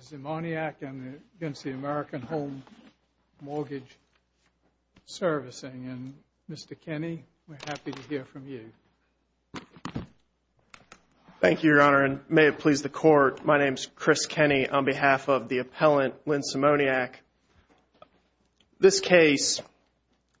Szymoniak v. American Home Mortgage Svc. Thank you, Your Honor, and may it please the Court, my name is Chris Kenney on behalf of the appellant, Lynn Szymoniak. Szymoniak, this case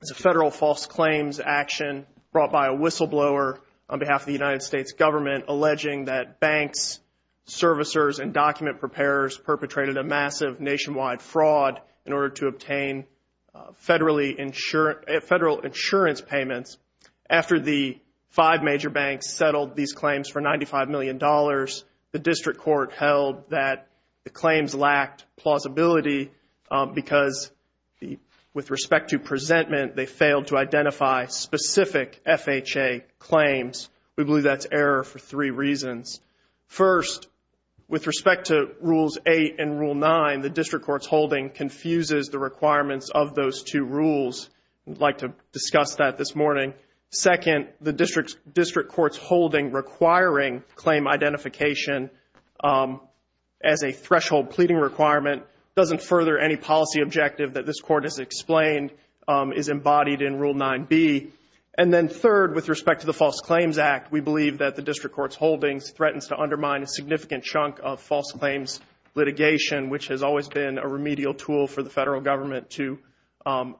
is a federal false claims action brought by a whistleblower on behalf of the United States government alleging that banks, servicers, and document preparers perpetrated a massive nationwide fraud in order to obtain federal insurance payments. After the five major banks settled these claims for $95 million, the district court held that the claims lacked plausibility because with respect to presentment, they failed to identify specific FHA claims. We believe that's error for three reasons. First, with respect to Rules 8 and Rule 9, the district court's holding confuses the requirements of those two rules. We'd like to discuss that this morning. Second, the district court's holding requiring claim identification as a threshold pleading requirement doesn't further any policy objective that this Court has explained is embodied in Rule 9b. And then third, with respect to the False Claims Act, we believe that the district court's holding threatens to undermine a significant chunk of false claims litigation, which has always been a remedial tool for the federal government to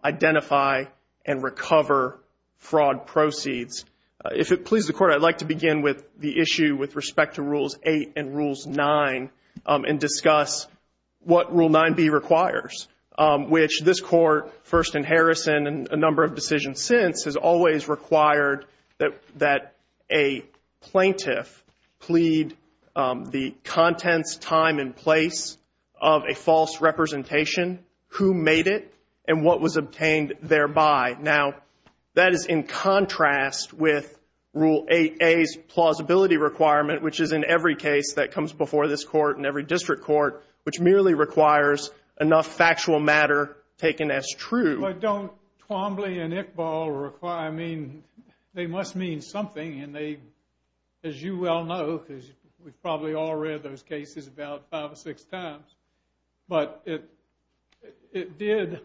identify and recover fraud proceeds. If it pleases the Court, I'd like to begin with the issue with respect to Rules 8 and Rules 9 and discuss what Rule 9b requires, which this Court, first in Harrison and a number of decisions since, has always required that a plaintiff plead the contents, time, and place of a false representation, who made it, and what was obtained thereby. Now that is in contrast with Rule 8a's plausibility requirement, which is in every case that comes before this Court and every district court, which merely requires enough factual matter taken as true. But don't Twombly and Iqbal require, I mean, they must mean something, and they, as you well know, because we've probably all read those cases about five or six times, but it did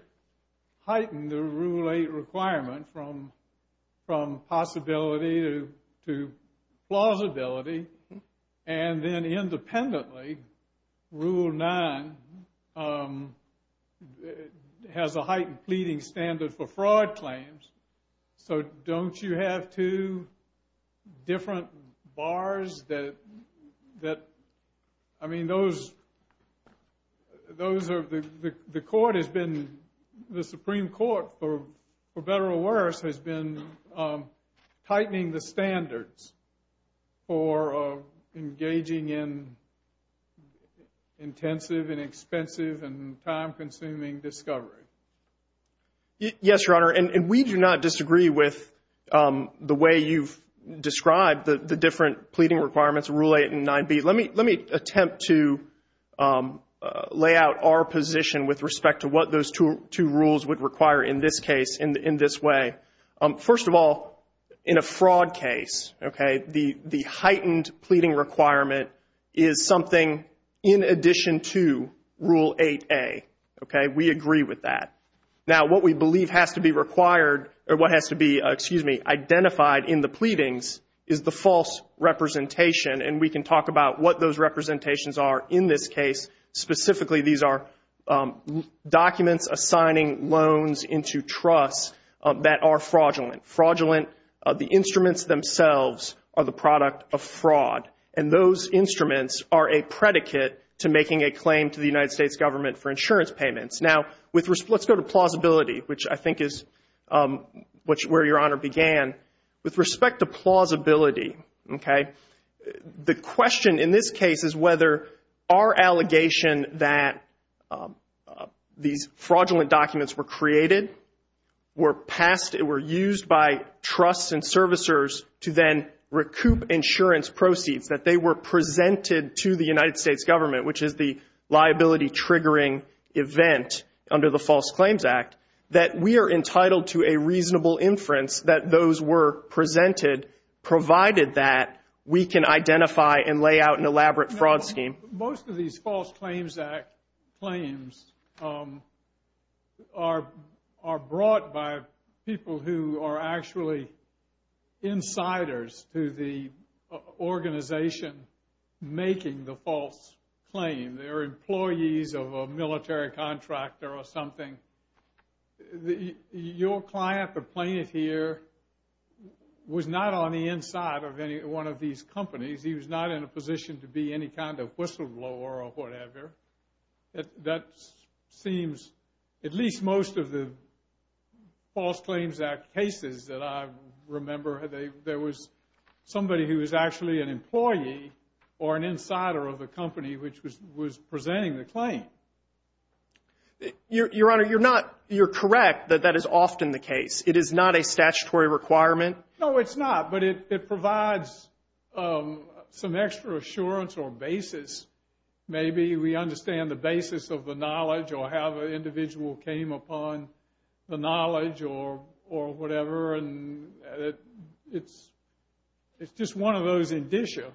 heighten the Rule 8 requirement from possibility to plausibility. And then independently, Rule 9 has a heightened pleading standard for fraud claims, so don't you have two different bars that, I mean, those are, the Court has been, the Supreme Court, for better or worse, has been tightening the standards for engaging in intensive and expensive and time-consuming discovery? Yes, Your Honor, and we do not disagree with the way you've described the different pleading requirements, Rule 8 and 9b. Let me attempt to lay out our position with respect to what those two rules would require in this case, in this way. First of all, in a fraud case, okay, the heightened pleading requirement is something in addition to Rule 8a, okay? We agree with that. Now, what we believe has to be required, or what has to be, excuse me, identified in the pleadings is the false representation, and we can talk about what those representations are in this case. Specifically, these are documents assigning loans into trusts that are fraudulent. Fraudulent, the instruments themselves are the product of fraud, and those instruments are a predicate to making a claim to the United States government for insurance payments. Now, let's go to plausibility, which I think is where Your Honor began. With respect to plausibility, okay, the question in this case is whether our allegation that these fraudulent documents were created, were used by trusts and servicers to then recoup insurance proceeds, that they were presented to the United States government, which is the liability-triggering event under the False Claims Act, that we are entitled to a reasonable inference that those were presented, provided that we can identify and lay out an elaborate fraud scheme. Most of these False Claims Act claims are brought by people who are actually insiders to the organization making the false claim. They're employees of a military contractor or something. Your client, the plaintiff here, was not on the inside of any one of these companies. He was not in a position to be any kind of whistleblower or whatever. That seems, at least most of the False Claims Act cases that I remember, there was somebody who was actually an employee or an insider of the company which was presenting the claim. Your Honor, you're correct that that is often the case. It is not a statutory requirement. No, it's not. But it provides some extra assurance or basis. Maybe we understand the basis of the knowledge or how the individual came upon the knowledge or whatever, and it's just one of those indicia.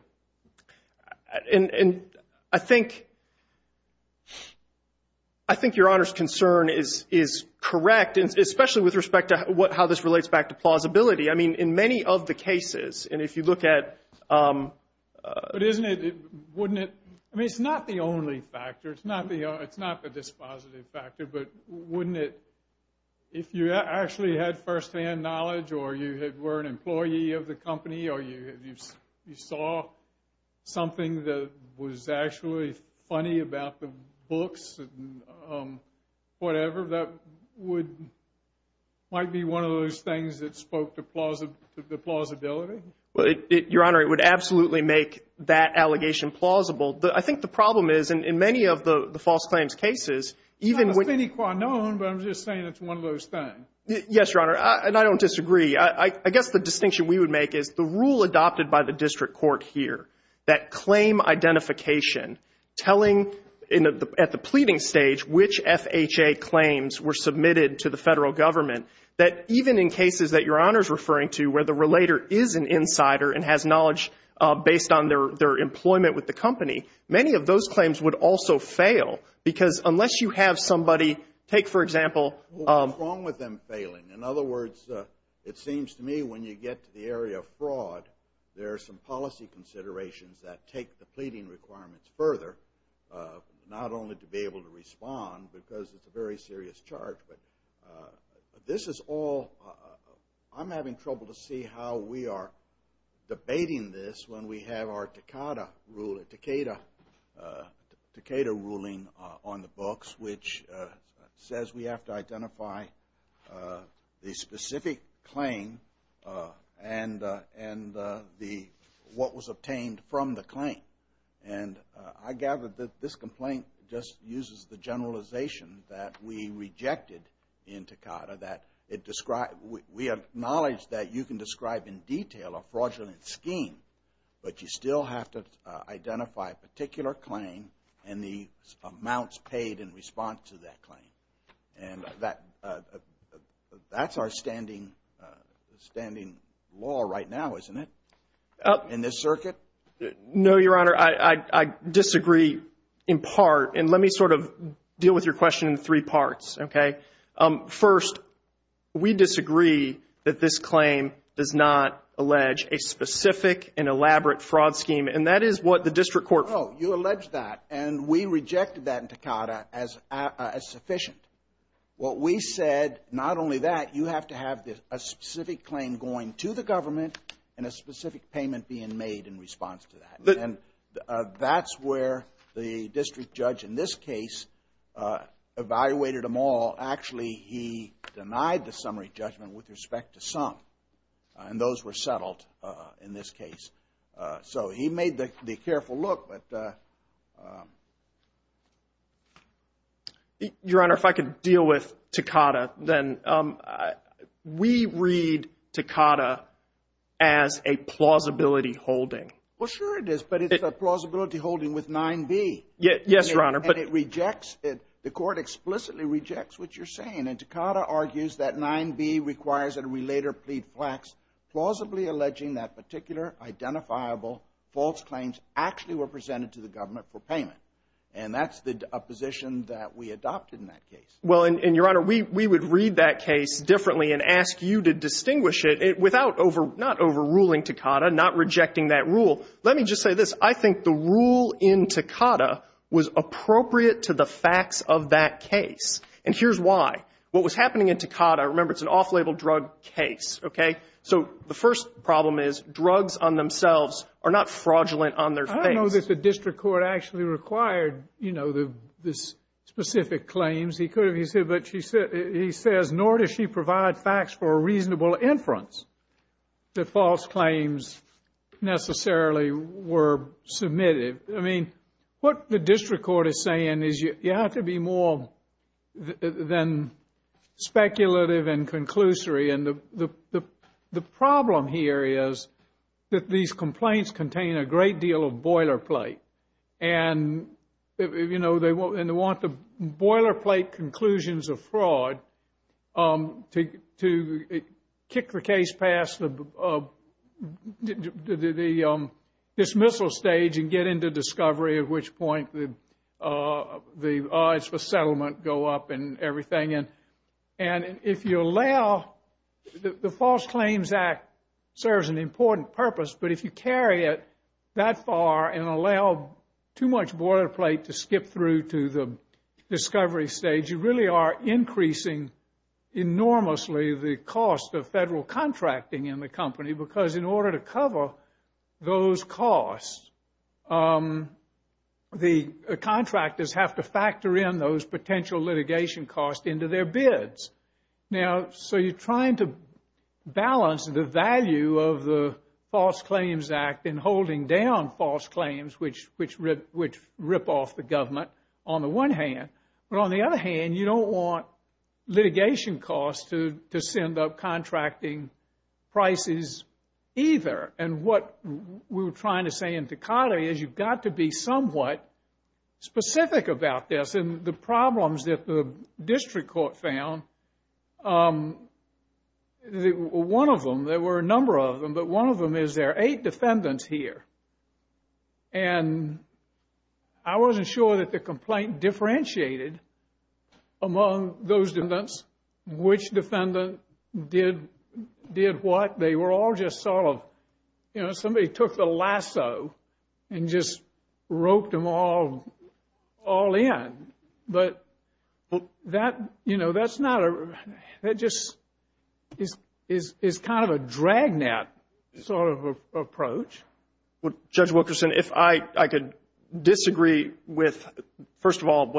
I think Your Honor's concern is correct, especially with respect to how this relates back to plausibility. In many of the cases, and if you look at... But isn't it, wouldn't it, I mean, it's not the only factor. It's not the dispositive factor, but wouldn't it, if you actually had firsthand knowledge or you were an employee of the company or you saw something that was actually funny about the books or whatever, that might be one of those things that spoke to the plausibility? Your Honor, it would absolutely make that allegation plausible. I think the problem is, in many of the false claims cases, even when... It's not a thing quite known, but I'm just saying it's one of those things. Yes, Your Honor, and I don't disagree. I guess the distinction we would make is the rule adopted by the district court here, that at the pleading stage, which FHA claims were submitted to the federal government, that even in cases that Your Honor's referring to, where the relator is an insider and has knowledge based on their employment with the company, many of those claims would also fail because unless you have somebody, take for example... What's wrong with them failing? In other words, it seems to me when you get to the area of fraud, there are some policy considerations that take the pleading requirements further, not only to be able to respond because it's a very serious charge, but this is all... I'm having trouble to see how we are debating this when we have our Tecada ruling on the obtained from the claim, and I gather that this complaint just uses the generalization that we rejected in Tecada, that it described... We acknowledge that you can describe in detail a fraudulent scheme, but you still have to identify a particular claim and the amounts paid in response to that claim, and that's our standing law right now, isn't it? In this circuit? No, Your Honor. I disagree in part, and let me sort of deal with your question in three parts, okay? First, we disagree that this claim does not allege a specific and elaborate fraud scheme, and that is what the district court... No, you allege that, and we rejected that in Tecada as sufficient. What we said, not only that, you have to have a specific claim going to the government and a specific payment being made in response to that, and that's where the district judge in this case evaluated them all. Actually, he denied the summary judgment with respect to some, and those were settled in this case, so he made the careful look, but... Your Honor, if I could deal with Tecada, then we read Tecada as a plausibility holding. Well, sure it is, but it's a plausibility holding with 9B. Yes, Your Honor, but... The court explicitly rejects what you're saying, and Tecada argues that 9B requires that we later plead flax, plausibly alleging that particular identifiable false claims actually were presented to the government for payment, and that's the position that we adopted in that case. Well, and Your Honor, we would read that case differently and ask you to distinguish it without overruling Tecada, not rejecting that rule. Let me just say this. I think the rule in Tecada was appropriate to the facts of that case, and here's why. What was happening in Tecada, remember, it's an off-label drug case, okay? So the first problem is drugs on themselves are not fraudulent on their face. I don't know that the district court actually required, you know, the specific claims. He could have, he said, but he says, nor does she provide facts for a reasonable inference that false claims necessarily were submitted. I mean, what the district court is saying is you have to be more than speculative and And, you know, they want the boilerplate conclusions of fraud to kick the case past the dismissal stage and get into discovery, at which point the odds for settlement go up and everything. And if you allow, the False Claims Act serves an important purpose, but if you carry it that far and allow too much boilerplate to skip through to the discovery stage, you really are increasing enormously the cost of federal contracting in the company, because in order to cover those costs, the contractors have to factor in those potential litigation costs into their bids. Now, so you're trying to balance the value of the False Claims Act in holding down false claims, which rip off the government on the one hand. But on the other hand, you don't want litigation costs to send up contracting prices either. And what we were trying to say in Tecate is you've got to be somewhat specific about this. And the problems that the district court found, one of them, there were a number of them, but one of them is there are eight defendants here, and I wasn't sure that the complaint differentiated among those defendants, which defendant did what. They were all just sort of, you know, somebody took the lasso and just roped them all in. But that, you know, that's not a, that just is kind of a dragnet sort of approach. Well, Judge Wilkerson, if I could disagree with, first of all,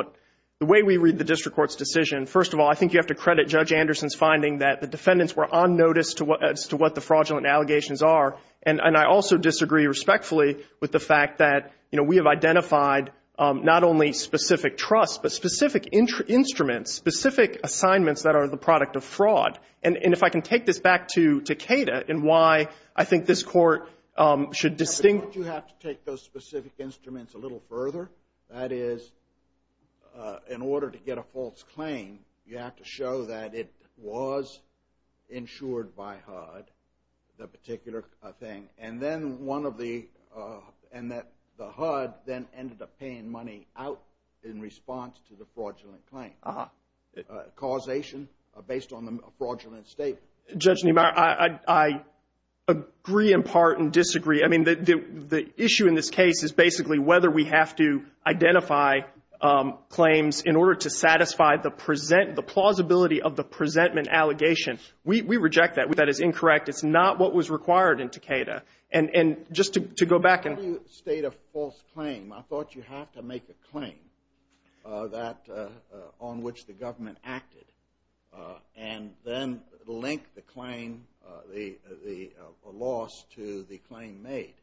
the way we read the district court's decision, first of all, I think you have to credit Judge Anderson's finding that the defendants were on notice as to what the fraudulent allegations are. And I also disagree respectfully with the fact that, you know, we have identified not only specific trust, but specific instruments, specific assignments that are the product of fraud. And if I can take this back to Tecate and why I think this Court should distinct You have to take those specific instruments a little further. That is, in order to get a false claim, you have to show that it was insured by HUD, the particular thing. And then one of the, and that the HUD then ended up paying money out in response to the fraudulent claim. Uh-huh. Causation based on the fraudulent statement. Judge Niemeyer, I agree in part and disagree. I mean, the issue in this case is basically whether we have to identify claims in order to satisfy the present, the plausibility of the presentment allegation. We reject that. That is incorrect. It's not what was required in Tecate. And just to go back and- How do you state a false claim? I thought you have to make a claim that, on which the government acted. Uh, and then link the claim, the loss to the claim made.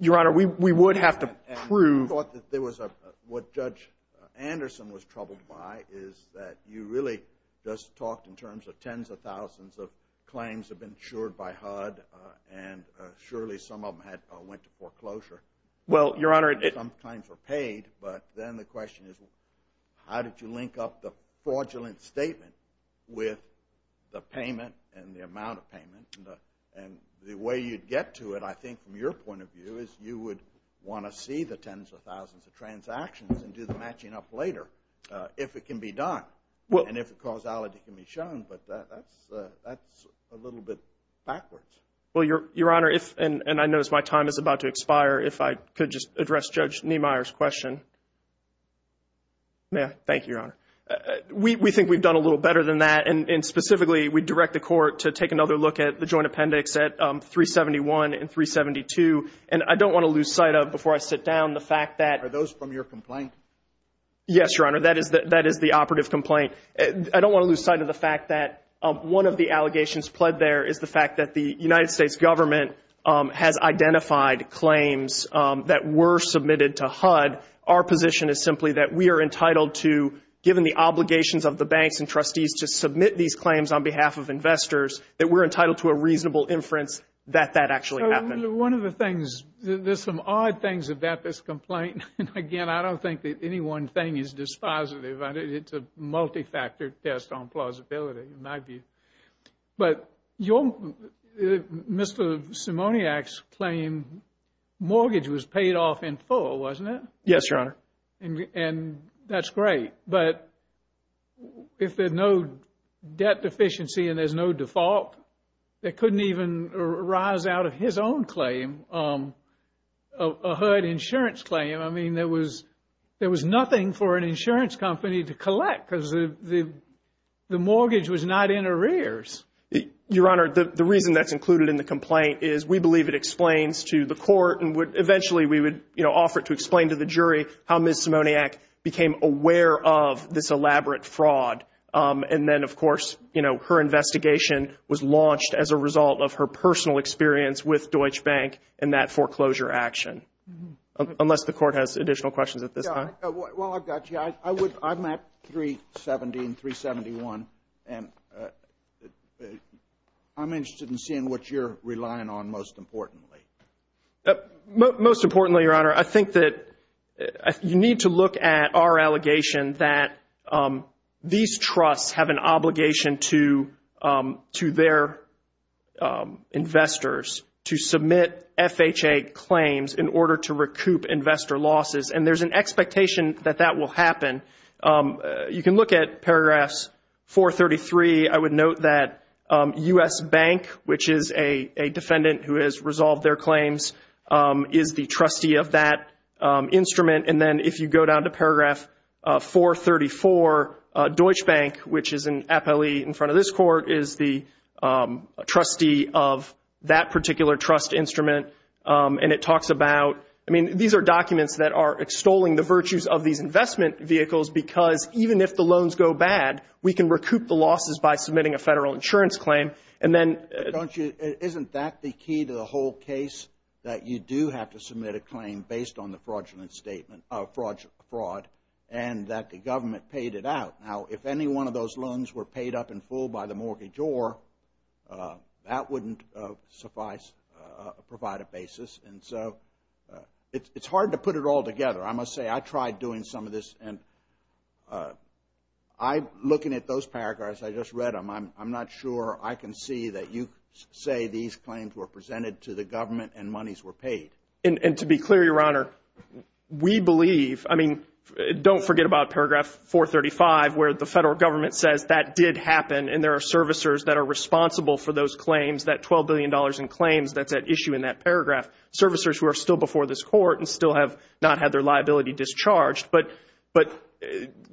Your Honor, we would have to prove- And I thought that there was a, what Judge Anderson was troubled by is that you really just talked in terms of tens of thousands of claims have been insured by HUD and surely some of them had, went to foreclosure. Well Your Honor- And the fraudulent statement with the payment and the amount of payment and the way you'd get to it, I think, from your point of view, is you would want to see the tens of thousands of transactions and do the matching up later if it can be done. And if the causality can be shown, but that's a little bit backwards. Well, Your Honor, if, and I notice my time is about to expire, if I could just address Judge Niemeyer's question. May I? Thank you, Your Honor. Uh, we, we think we've done a little better than that and, and specifically, we'd direct the court to take another look at the joint appendix at, um, 371 and 372. And I don't want to lose sight of, before I sit down, the fact that- Are those from your complaint? Yes, Your Honor, that is the, that is the operative complaint. I don't want to lose sight of the fact that, um, one of the allegations pled there is the fact that the United States government, um, has identified claims, um, that were submitted to HUD. Our position is simply that we are entitled to, given the obligations of the banks and trustees to submit these claims on behalf of investors, that we're entitled to a reasonable inference that that actually happened. One of the things, there's some odd things about this complaint. And again, I don't think that any one thing is dispositive. It's a multi-factor test on plausibility, in my view. But your, Mr. Simoniak's claim, mortgage was paid off in full, wasn't it? Yes, Your Honor. And, and that's great, but if there's no debt deficiency and there's no default, that couldn't even arise out of his own claim, um, a HUD insurance claim. I mean, there was, there was nothing for an insurance company to collect because the, the mortgage was not in arrears. Your Honor, the, the reason that's included in the complaint is we believe it explains to the court and would, eventually we would, you know, offer it to explain to the jury how Ms. Simoniak became aware of this elaborate fraud. Um, and then of course, you know, her investigation was launched as a result of her personal experience with Deutsche Bank and that foreclosure action. Unless the court has additional questions at this time. Well, I've got you. I, I would, I'm at 370 and 371 and, uh, uh, I'm interested in seeing what you're relying on most importantly. Most importantly, Your Honor, I think that you need to look at our allegation that, um, these trusts have an obligation to, um, to their, um, investors to submit FHA claims in order to recoup investor losses. And there's an expectation that that will happen. Um, you can look at paragraphs 433, I would note that, um, U.S. Bank, which is a, a defendant who has resolved their claims, um, is the trustee of that, um, instrument. And then if you go down to paragraph, uh, 434, uh, Deutsche Bank, which is an appellee in front of this court, is the, um, trustee of that particular trust instrument, um, and it talks about, I mean, these are documents that are extolling the virtues of these investment vehicles because even if the loans go bad, we can recoup the losses by submitting a federal insurance claim. And then, uh, don't you, isn't that the key to the whole case, that you do have to submit a claim based on the fraudulent statement, uh, fraud, fraud, and that the government paid it out? Now, if any one of those loans were paid up in full by the mortgage or, uh, that wouldn't, uh, suffice, uh, provide a basis. And so, uh, it's, it's hard to put it all together. I must say, I tried doing some of this and, uh, I, looking at those paragraphs, I just read them. I'm, I'm not sure I can see that you say these claims were presented to the government and monies were paid. And, and to be clear, Your Honor, we believe, I mean, don't forget about paragraph 435 where the federal government says that did happen and there are servicers that are responsible for those claims, that $12 billion in claims that's at issue in that paragraph, servicers who are still before this court and still have not had their liability discharged. But, but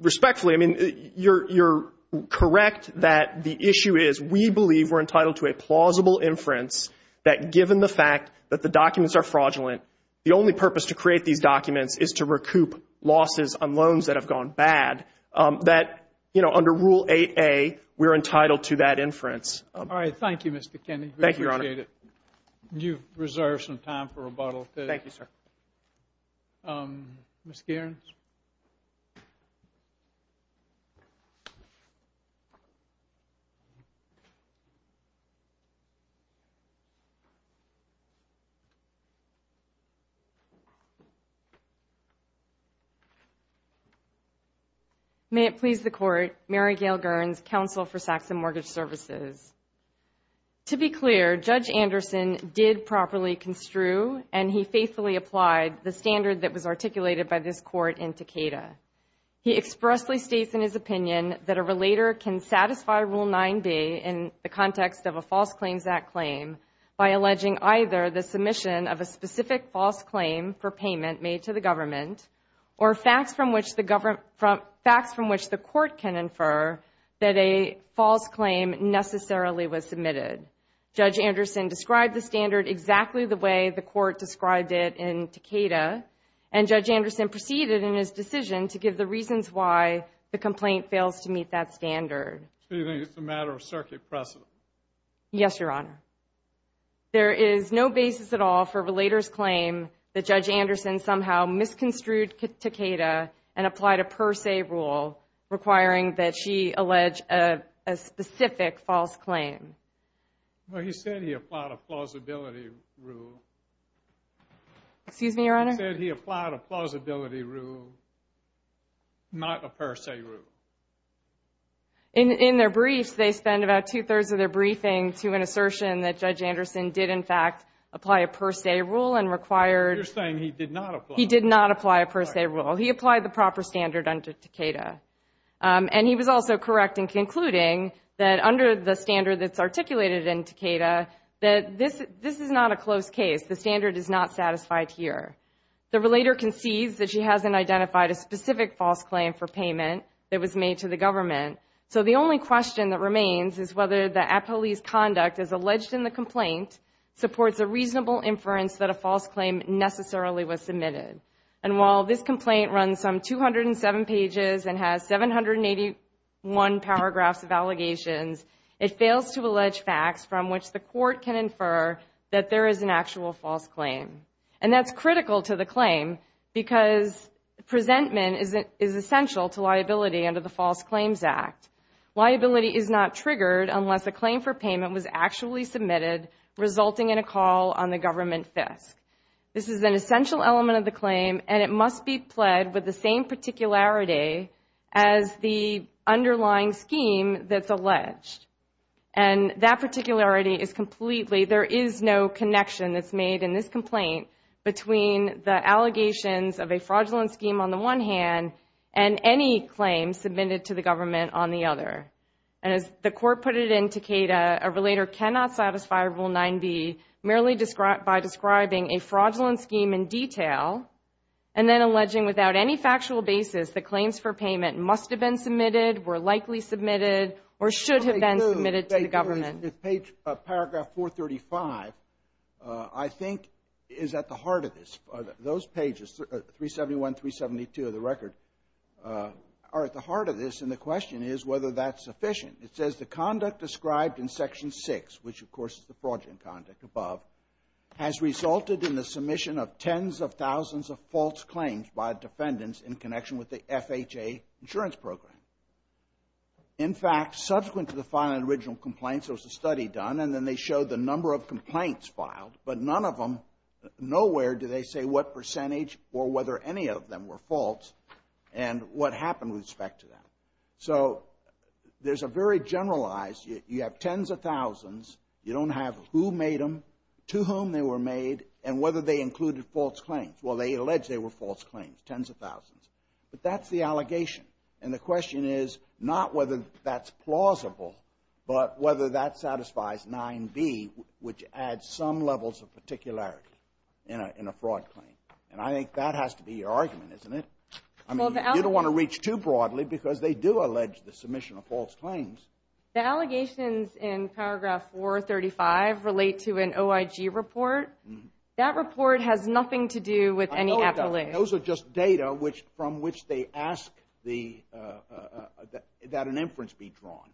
respectfully, I mean, you're, you're correct that the issue is we believe we're entitled to a plausible inference that given the fact that the documents are fraudulent, the only purpose to create these documents is to recoup losses on loans that have gone bad. Um, that, you know, under Rule 8A, we're entitled to that inference. All right. Thank you, Mr. Kenney. Thank you, Your Honor. We appreciate it. You've reserved some time for rebuttal. Thank you, sir. Um, Ms. Gerens? May it please the Court, Mary Gail Gerns, counsel for Saxon Mortgage Services. To be clear, Judge Anderson did properly construe and he faithfully applied the standard that was articulated by this Court in Takeda. He expressly states in his opinion that a relator can satisfy Rule 9B in the context of a False Claims Act claim by alleging either the submission of a specific false claim for payment made to the government or facts from which the government, facts from which the necessarily was submitted. Judge Anderson described the standard exactly the way the Court described it in Takeda, and Judge Anderson proceeded in his decision to give the reasons why the complaint fails to meet that standard. So you think it's a matter of circuit precedent? Yes, Your Honor. There is no basis at all for relator's claim that Judge Anderson somehow misconstrued Takeda and applied a per se rule requiring that she allege a specific false claim. Well, he said he applied a plausibility rule. Excuse me, Your Honor? He said he applied a plausibility rule, not a per se rule. In their briefs, they spend about two-thirds of their briefing to an assertion that Judge Anderson did in fact apply a per se rule and required... You're saying he did not apply... He did not apply a per se rule. He applied the proper standard under Takeda. And he was also correct in concluding that under the standard that's articulated in Takeda, that this is not a close case. The standard is not satisfied here. The relator concedes that she hasn't identified a specific false claim for payment that was made to the government. So the only question that remains is whether the appellee's conduct as alleged in the complaint supports a reasonable inference that a false claim necessarily was submitted. And while this complaint runs some 207 pages and has 781 paragraphs of allegations, it fails to allege facts from which the court can infer that there is an actual false claim. And that's critical to the claim because presentment is essential to liability under the False Claims Act. Liability is not triggered unless a claim for payment was actually submitted, resulting in a call on the government FISC. This is an essential element of the claim, and it must be pled with the same particularity as the underlying scheme that's alleged. And that particularity is completely, there is no connection that's made in this complaint between the allegations of a fraudulent scheme on the one hand and any claims submitted to the government on the other. And as the court put it in Takeda, a relator cannot satisfy Rule 9b merely by describing a fraudulent scheme in detail and then alleging without any factual basis that claims for payment must have been submitted, were likely submitted, or should have been submitted to the government. If page, paragraph 435, I think, is at the heart of this. Those pages, 371, 372 of the record, are at the heart of this. And the question is whether that's sufficient. It says the conduct described in Section 6, which, of course, is the fraudulent conduct above, has resulted in the submission of tens of thousands of false claims by defendants in connection with the FHA insurance program. In fact, subsequent to the filing of the original complaints, there was a study done, and then they showed the number of complaints filed, but none of them, nowhere do they say what percentage or whether any of them were false and what happened with respect to them. So there's a very generalized, you have tens of thousands. You don't have who made them, to whom they were made, and whether they included false claims. Well, they allege they were false claims, tens of thousands. But that's the allegation, and the question is not whether that's plausible, but whether that satisfies 9b, which adds some levels of particularity in a fraud claim. And I think that has to be your argument, isn't it? I mean, you don't want to reach too broadly because they do allege the submission of false claims. The allegations in paragraph 435 relate to an OIG report. That report has nothing to do with any appellation. I know it doesn't. Those are just data from which they ask that an inference be drawn.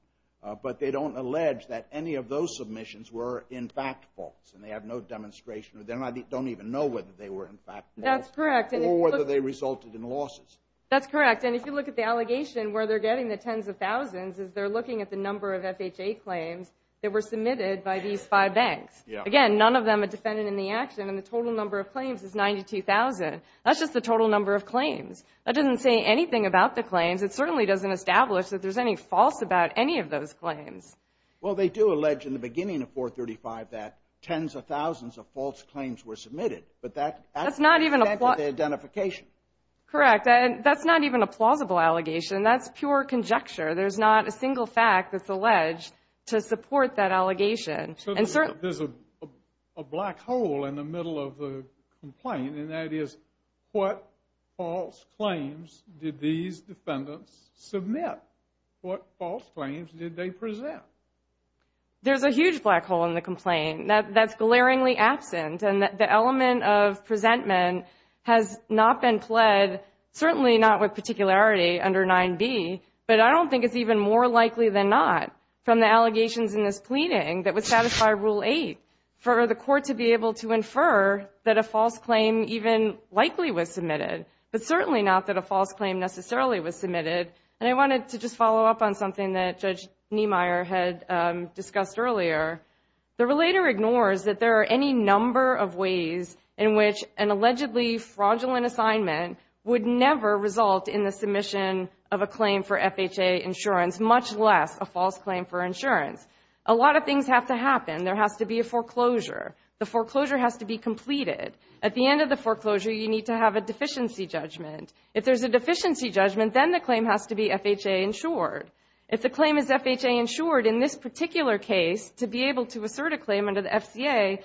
But they don't allege that any of those submissions were in fact false, and they have no demonstration or they don't even know whether they were in fact false. That's correct. Or whether they resulted in losses. That's correct. And if you look at the allegation where they're getting the tens of thousands is they're looking at the number of FHA claims that were submitted by these five banks. Again, none of them are defended in the action, and the total number of claims is 92,000. That's just the total number of claims. That doesn't say anything about the claims. It certainly doesn't establish that there's any false about any of those claims. Well, they do allege in the beginning of 435 that tens of thousands of false claims were submitted. But that actually connected to the identification. Correct. And that's not even a plausible allegation. That's pure conjecture. There's not a single fact that's alleged to support that allegation. So there's a black hole in the middle of the complaint, and that is what false claims did these defendants submit? What false claims did they present? There's a huge black hole in the complaint. That's glaringly absent, and the element of presentment has not been pled, certainly not with particularity under 9b. But I don't think it's even more likely than not from the allegations in this pleading that would satisfy Rule 8 for the court to be able to infer that a false claim even likely was submitted, but certainly not that a false claim necessarily was submitted. And I wanted to just follow up on something that Judge Niemeyer had discussed earlier. The relator ignores that there are any number of ways in which an allegedly fraudulent assignment would never result in the submission of a claim for FHA insurance, much less a false claim for insurance. A lot of things have to happen. There has to be a foreclosure. The foreclosure has to be completed. At the end of the foreclosure, you need to have a deficiency judgment. If there's a deficiency judgment, then the claim has to be FHA insured. If the claim is FHA insured, in this particular case, to be able to assert a claim under the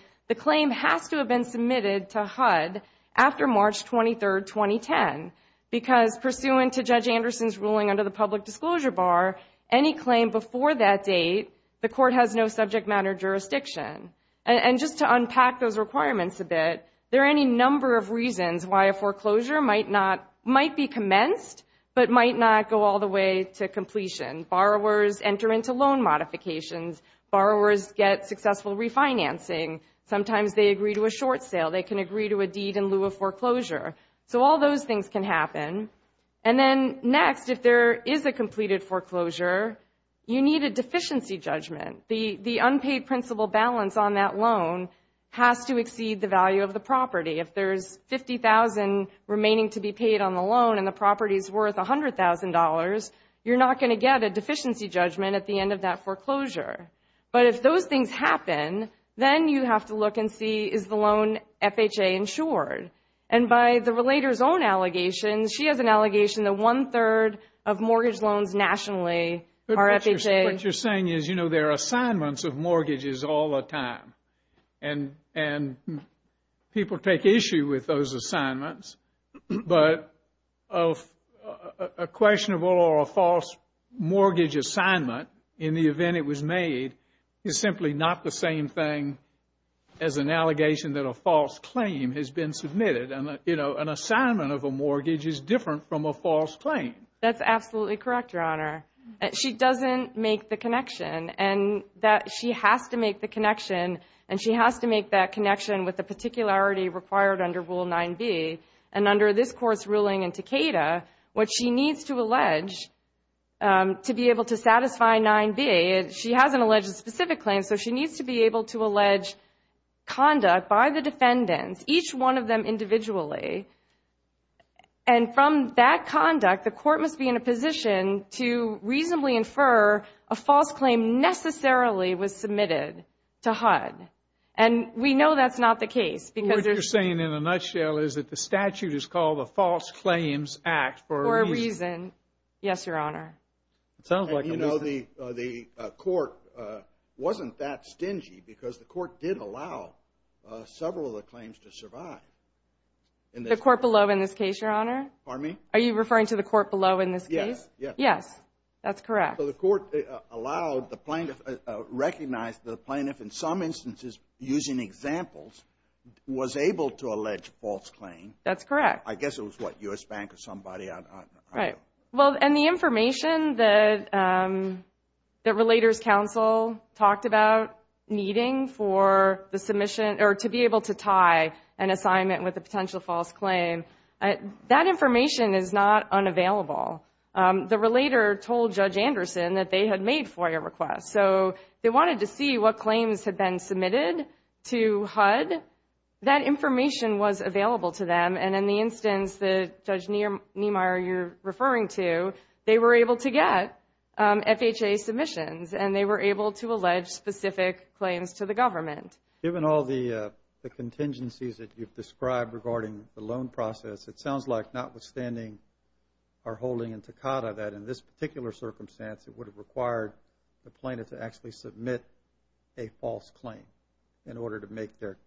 Because pursuant to Judge Anderson's ruling under the public disclosure bar, any claim before that date, the court has no subject matter jurisdiction. And just to unpack those requirements a bit, there are any number of reasons why a foreclosure might be commenced but might not go all the way to completion. Borrowers enter into loan modifications. Borrowers get successful refinancing. Sometimes they agree to a short sale. They can agree to a deed in lieu of foreclosure. So all those things can happen. And then next, if there is a completed foreclosure, you need a deficiency judgment. The unpaid principal balance on that loan has to exceed the value of the property. If there's $50,000 remaining to be paid on the loan and the property is worth $100,000, you're not going to get a deficiency judgment at the end of that foreclosure. But if those things happen, then you have to look and see, is the loan FHA insured? And by the relator's own allegations, she has an allegation that one-third of mortgage loans nationally are FHA. What you're saying is, you know, there are assignments of mortgages all the time. And people take issue with those assignments. But a questionable or a false mortgage assignment, in the event it was made, is simply not the same thing as an allegation that a false claim has been submitted. And, you know, an assignment of a mortgage is different from a false claim. That's absolutely correct, Your Honor. She doesn't make the connection. And she has to make the connection, and she has to make that connection with the particularity required under Rule 9b. And under this Court's ruling in Takeda, what she needs to allege to be able to satisfy 9b, she hasn't alleged a specific claim, so she needs to be able to allege conduct by the defendants, each one of them individually. And from that conduct, the Court must be in a position to reasonably infer a false claim necessarily was submitted to HUD. And we know that's not the case because there's... What you're saying in a nutshell is that the statute is called the False Claims Act for a reason. For a reason, yes, Your Honor. It sounds like a reason. You know, the Court wasn't that stingy because the Court did allow several of the claims to survive. The court below in this case, Your Honor? Pardon me? Are you referring to the court below in this case? Yes. Yes, that's correct. So the Court allowed the plaintiff, recognized the plaintiff in some instances using examples, was able to allege false claim. That's correct. I guess it was, what, U.S. Bank or somebody. Well, and the information that Relators Council talked about needing for the submission or to be able to tie an assignment with a potential false claim, that information is not unavailable. The Relator told Judge Anderson that they had made FOIA requests. So they wanted to see what claims had been submitted to HUD. That information was available to them. And in the instance that Judge Niemeyer you're referring to, they were able to get FHA submissions, and they were able to allege specific claims to the government. Given all the contingencies that you've described regarding the loan process, it sounds like notwithstanding our holding in Takata that in this particular circumstance, it would have required the plaintiff to actually submit a false claim in order to make their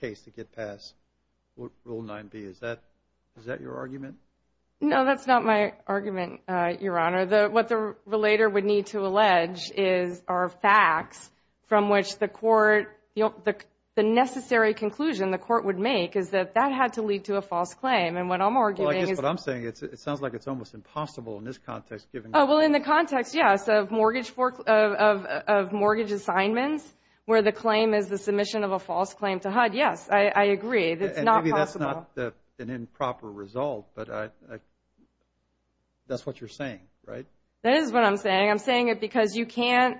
case to get past Rule 9b. Is that your argument? No, that's not my argument, Your Honor. What the Relator would need to allege are facts from which the court, the necessary conclusion the court would make is that that had to lead to a false claim. And what I'm arguing is that. Well, I guess what I'm saying, it sounds like it's almost impossible in this context. Well, in the context, yes, of mortgage assignments where the claim is the submission of a false claim to HUD, yes, I agree. It's not possible. Maybe that's not an improper result, but that's what you're saying, right? That is what I'm saying. I'm saying it because you can't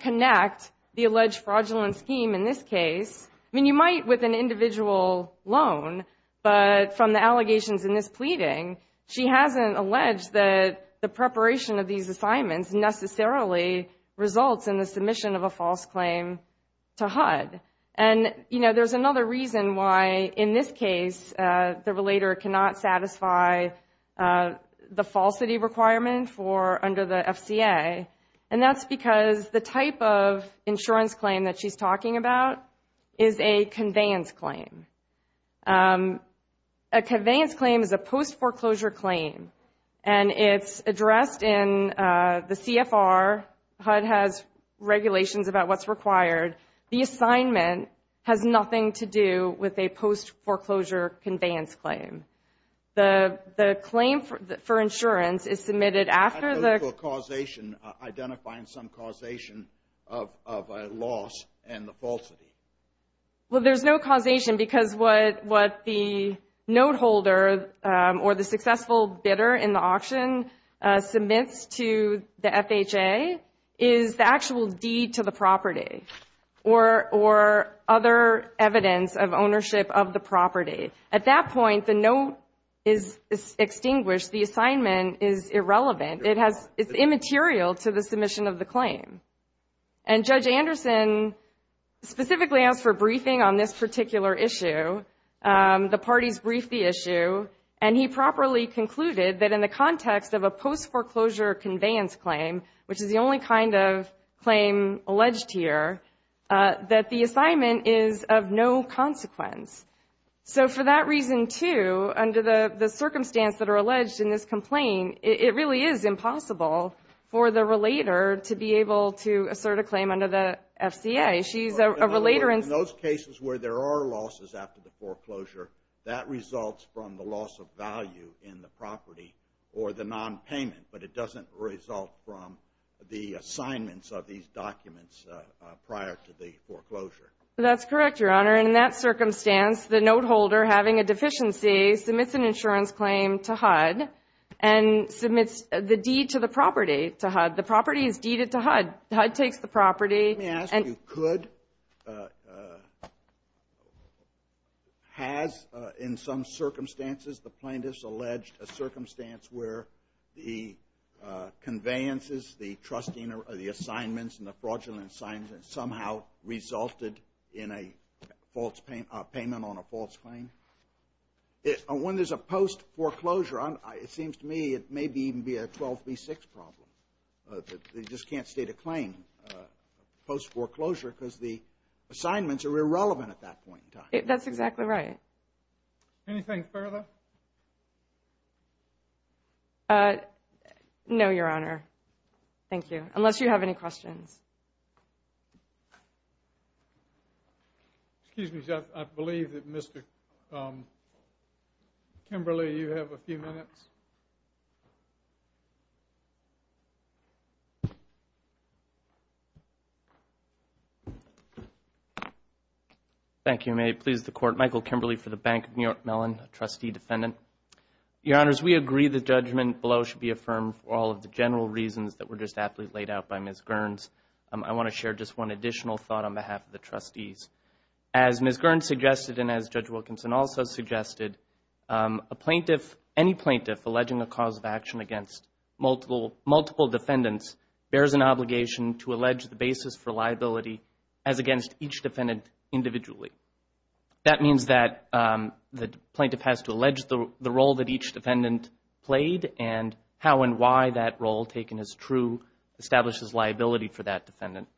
connect the alleged fraudulent scheme in this case. I mean, you might with an individual loan, but from the allegations in this pleading, she hasn't alleged that the preparation of these assignments necessarily results in the submission of a false claim to HUD. And, you know, there's another reason why, in this case, the Relator cannot satisfy the falsity requirement for under the FCA, and that's because the type of insurance claim that she's talking about is a conveyance claim. A conveyance claim is a post-foreclosure claim, and it's addressed in the CFR. HUD has regulations about what's required. The assignment has nothing to do with a post-foreclosure conveyance claim. The claim for insurance is submitted after the... Identifying some causation of a loss and the falsity. Well, there's no causation because what the note holder or the successful bidder in the auction submits to the FHA is the actual deed to the property or other evidence of ownership of the property. At that point, the note is extinguished. The assignment is irrelevant. It's immaterial to the submission of the claim. And Judge Anderson specifically asked for a briefing on this particular issue. The parties briefed the issue, and he properly concluded that in the context of a post-foreclosure conveyance claim, which is the only kind of claim alleged here, that the assignment is of no consequence. So for that reason, too, under the circumstance that are alleged in this complaint, it really is impossible for the relater to be able to assert a claim under the FCA. She's a relater in... In those cases where there are losses after the foreclosure, that results from the loss of value in the property or the nonpayment, but it doesn't result from the assignments of these documents prior to the foreclosure. That's correct, Your Honor. In that circumstance, the note holder having a deficiency submits an insurance claim to HUD, and submits the deed to the property to HUD. The property is deeded to HUD. HUD takes the property. Let me ask you, could... Has, in some circumstances, the plaintiff's alleged a circumstance where the conveyances, the trusting of the assignments and the fraudulent assignments somehow resulted in a false payment on a false claim? When there's a post-foreclosure, it seems to me it may even be a 12B6 problem. They just can't state a claim post-foreclosure because the assignments are irrelevant at that point in time. That's exactly right. Anything further? No, Your Honor. Thank you. Unless you have any questions. Excuse me, sir. I believe that Mr. Kimberly, you have a few minutes. Thank you. May it please the Court. Michael Kimberly for the Bank of New York Mellon, a trustee defendant. Your Honors, we agree the judgment below should be affirmed for all of the general reasons that were just aptly laid out by Ms. Gerns. I want to share just one additional thought on behalf of the trustees. As Ms. Gerns suggested and as Judge Wilkinson also suggested, any plaintiff alleging a cause of action against multiple defendants bears an obligation to allege the basis for liability as against each defendant individually. That means that the plaintiff has to allege the role that each defendant played and how and why that role taken as true establishes liability for that defendant.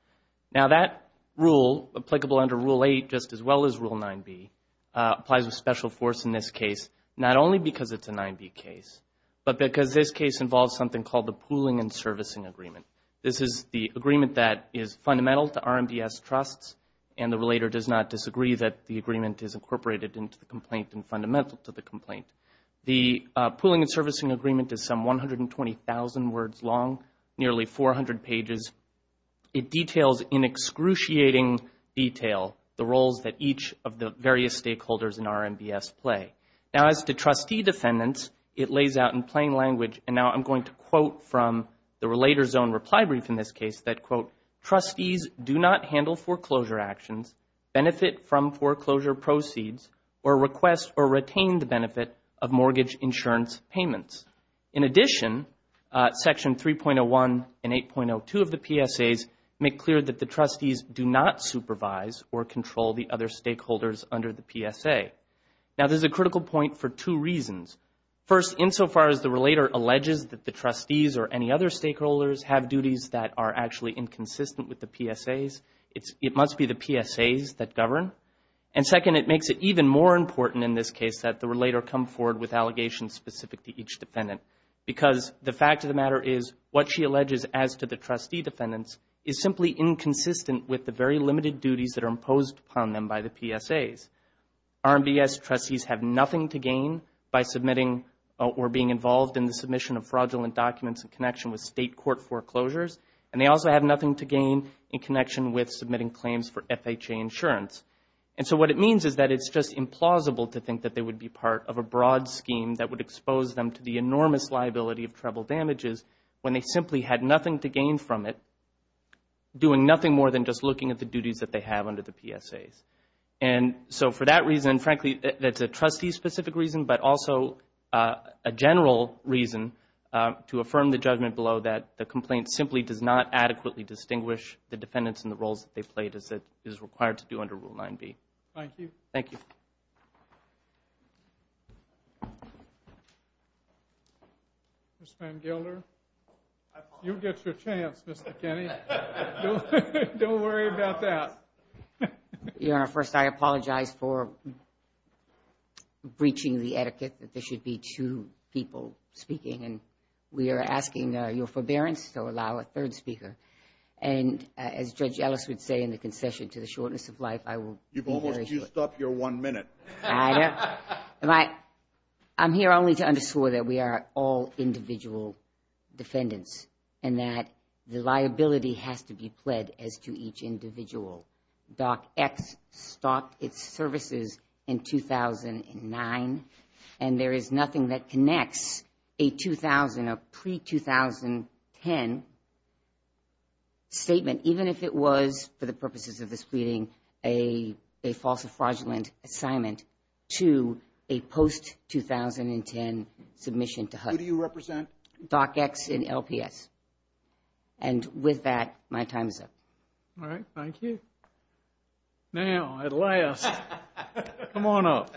Now that rule, applicable under Rule 8 just as well as Rule 9b, applies with special force in this case, not only because it's a 9b case, but because this case involves something called the pooling and servicing agreement. This is the agreement that is fundamental to RMDS trusts, and the relator does not disagree that the agreement is incorporated into the complaint and fundamental to the complaint. The pooling and servicing agreement is some 120,000 words long, nearly 400 pages. It details in excruciating detail the roles that each of the various stakeholders in RMDS play. Now, as to trustee defendants, it lays out in plain language, and now I'm going to quote from the relator's own reply brief in this case that, quote, trustees do not handle foreclosure actions, benefit from foreclosure proceeds, or request or retain the benefit of mortgage insurance payments. In addition, Section 3.01 and 8.02 of the PSAs make clear that the trustees do not supervise or control the other stakeholders under the PSA. Now, there's a critical point for two reasons. First, insofar as the relator alleges that the trustees or any other stakeholders have duties that are actually inconsistent with the PSAs, it must be the PSAs that govern. And second, it makes it even more important in this case that the relator come forward with allegations specific to each defendant because the fact of the matter is what she alleges as to the trustee defendants is simply inconsistent with the very limited duties that are imposed upon them by the PSAs. RMDS trustees have nothing to gain by submitting or being involved in the submission of fraudulent documents in connection with state court foreclosures, and they also have nothing to gain in connection with submitting claims for FHA insurance. And so what it means is that it's just implausible to think that they would be part of a broad scheme that would expose them to the enormous liability of treble damages when they simply had nothing to gain from it, doing nothing more than just looking at the duties that they have under the PSAs. And so for that reason, frankly, that's a trustee-specific reason, but also a general reason to affirm the judgment below that the complaint simply does not adequately distinguish the defendants and the roles that they played as it is required to do under Rule 9b. Thank you. Thank you. Ms. Van Gilder, you get your chance, Mr. Kenney. Don't worry about that. Your Honor, first I apologize for breaching the etiquette that there should be two people speaking, and we are asking your forbearance to allow a third speaker. And as Judge Ellis would say in the concession to the shortness of life, I will be very short. You've almost used up your one minute. I'm here only to underscore that we are all individual defendants and that the liability has to be pled as to each individual. DOCX stopped its services in 2009, and there is nothing that connects a 2000, a pre-2010 statement, even if it was for the purposes of this meeting a false or fraudulent assignment, to a post-2010 submission to HUD. Who do you represent? DOCX and LPS. And with that, my time is up. All right. Thank you. Now, at last, come on up.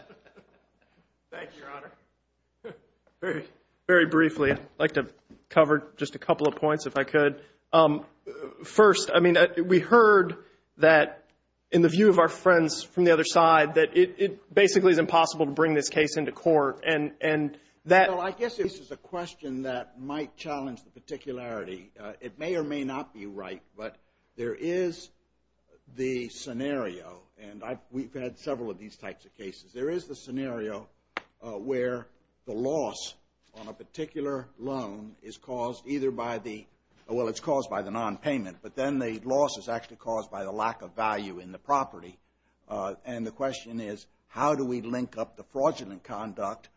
Thank you, Your Honor. Very briefly, I'd like to cover just a couple of points if I could. First, I mean, we heard that in the view of our friends from the other side that it basically is impossible to bring this case into court. Well, I guess this is a question that might challenge the particularity. It may or may not be right, but there is the scenario, and we've had several of these types of cases. There is the scenario where the loss on a particular loan is caused either by the – well, it's caused by the nonpayment, but then the loss is actually caused by the lack of value in the property. And the question is, how do we link up the fraudulent conduct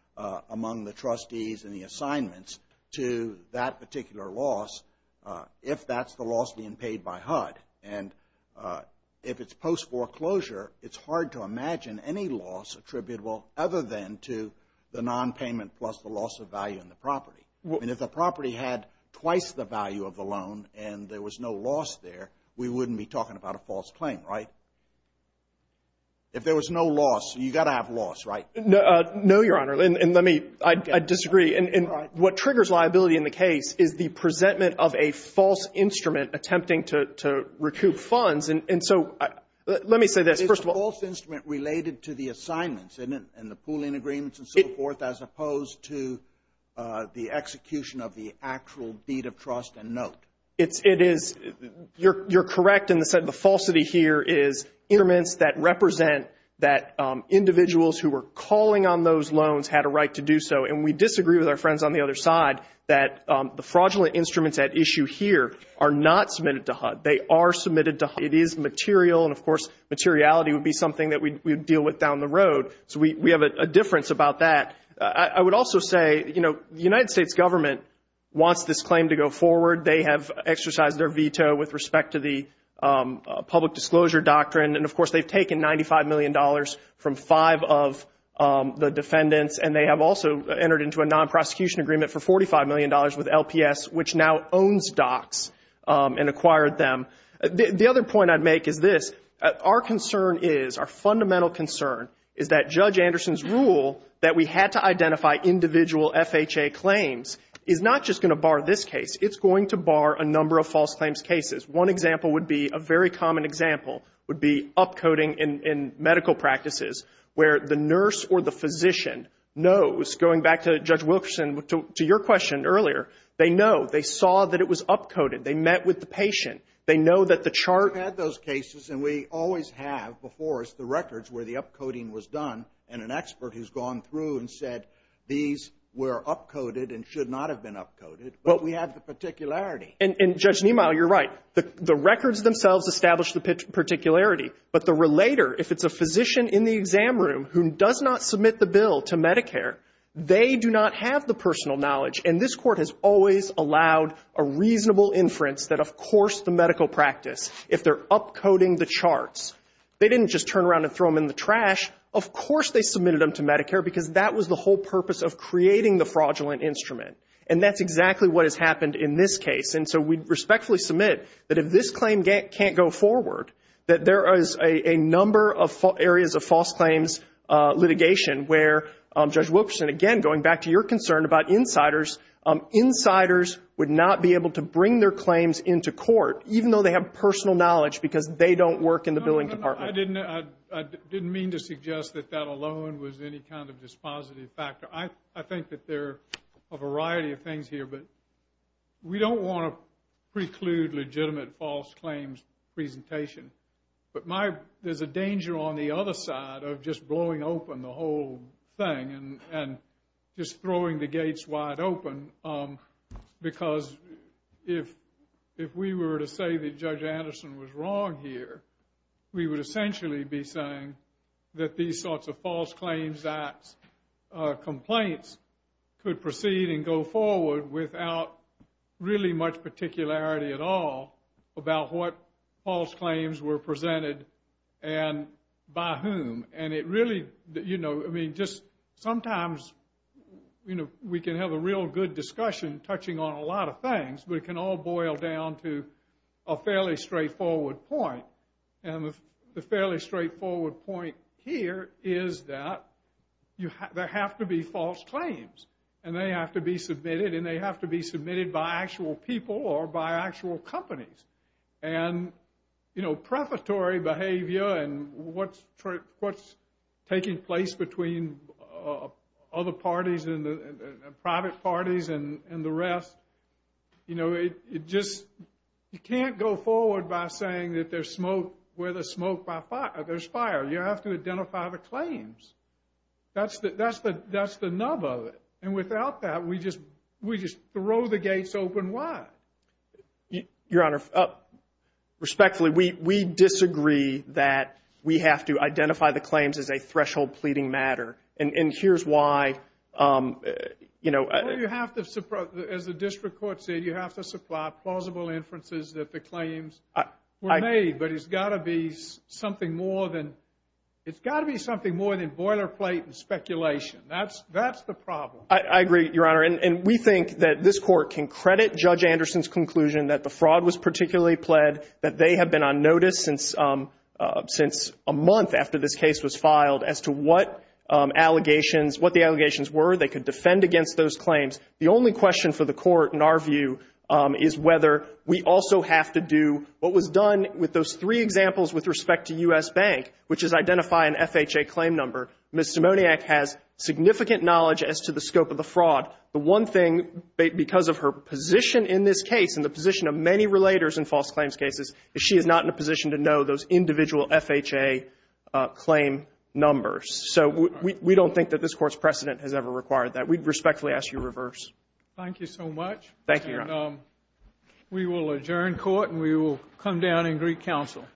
among the trustees and the assignments to that particular loss if that's the loss being paid by HUD? And if it's post-foreclosure, it's hard to imagine any loss attributable other than to the nonpayment plus the loss of value in the property. And if the property had twice the value of the loan and there was no loss there, we wouldn't be talking about a false claim, right? If there was no loss, you've got to have loss, right? No, Your Honor. And let me – I disagree. And what triggers liability in the case is the presentment of a false instrument attempting to recoup funds. And so let me say this. First of all – It's a false instrument related to the assignments and the pooling agreements and so forth as opposed to the execution of the actual deed of trust and note. It is. You're correct in the sense the falsity here is instruments that represent that individuals who were calling on those loans had a right to do so. And we disagree with our friends on the other side that the fraudulent instruments at issue here are not submitted to HUD. They are submitted to HUD. It is material. And, of course, materiality would be something that we'd deal with down the road. So we have a difference about that. I would also say, you know, the United States government wants this claim to go forward. They have exercised their veto with respect to the public disclosure doctrine. And, of course, they've taken $95 million from five of the defendants, and they have also entered into a non-prosecution agreement for $45 million with LPS, which now owns DOCS and acquired them. The other point I'd make is this. Our concern is, our fundamental concern, is that Judge Anderson's rule that we had to identify individual FHA claims is not just going to bar this case. It's going to bar a number of false claims cases. One example would be a very common example would be upcoding in medical practices where the nurse or the physician knows, going back to Judge Wilkerson, to your question earlier, they know. They saw that it was upcoded. They met with the patient. They know that the chart. We've had those cases, and we always have. Before us, the records where the upcoding was done, and an expert who's gone through and said these were upcoded and should not have been upcoded, but we have the particularity. And, Judge Niemeyer, you're right. The records themselves establish the particularity. But the relator, if it's a physician in the exam room who does not submit the bill to Medicare, they do not have the personal knowledge. And this Court has always allowed a reasonable inference that, of course, the medical practice, if they're upcoding the charts, they didn't just turn around and throw them in the trash. Of course they submitted them to Medicare because that was the whole purpose of creating the fraudulent instrument. And that's exactly what has happened in this case. And so we respectfully submit that if this claim can't go forward, that there is a number of areas of false claims litigation where, Judge Wilkerson, and, again, going back to your concern about insiders, insiders would not be able to bring their claims into court, even though they have personal knowledge because they don't work in the billing department. I didn't mean to suggest that that alone was any kind of dispositive factor. I think that there are a variety of things here, but we don't want to preclude legitimate false claims presentation. But there's a danger on the other side of just blowing open the whole thing and just throwing the gates wide open. Because if we were to say that Judge Anderson was wrong here, we would essentially be saying that these sorts of false claims acts, complaints could proceed and go forward without really much particularity at all about what false claims were presented and by whom. And it really, you know, I mean, just sometimes, you know, we can have a real good discussion touching on a lot of things, but it can all boil down to a fairly straightforward point. And the fairly straightforward point here is that there have to be false claims, and they have to be submitted, and they have to be submitted by actual people or by actual companies. And, you know, prefatory behavior and what's taking place between other parties and private parties and the rest, you know, it just, you can't go forward by saying that there's smoke where there's fire. You have to identify the claims. That's the nub of it. And without that, we just throw the gates open wide. Your Honor, respectfully, we disagree that we have to identify the claims as a threshold pleading matter. And here's why, you know. Well, you have to, as the district court said, you have to supply plausible inferences that the claims were made. But it's got to be something more than boilerplate and speculation. That's the problem. I agree, Your Honor. And we think that this Court can credit Judge Anderson's conclusion that the fraud was particularly pled, that they have been on notice since a month after this case was filed as to what allegations, what the allegations were. They could defend against those claims. The only question for the Court, in our view, is whether we also have to do what was done with those three examples with respect to U.S. Bank, which is identify an FHA claim number. Ms. Simoniak has significant knowledge as to the scope of the fraud. The one thing, because of her position in this case and the position of many relators in false claims cases, is she is not in a position to know those individual FHA claim numbers. So we don't think that this Court's precedent has ever required that. We respectfully ask you reverse. Thank you so much. Thank you, Your Honor. And we will adjourn court, and we will come down in Greek counsel.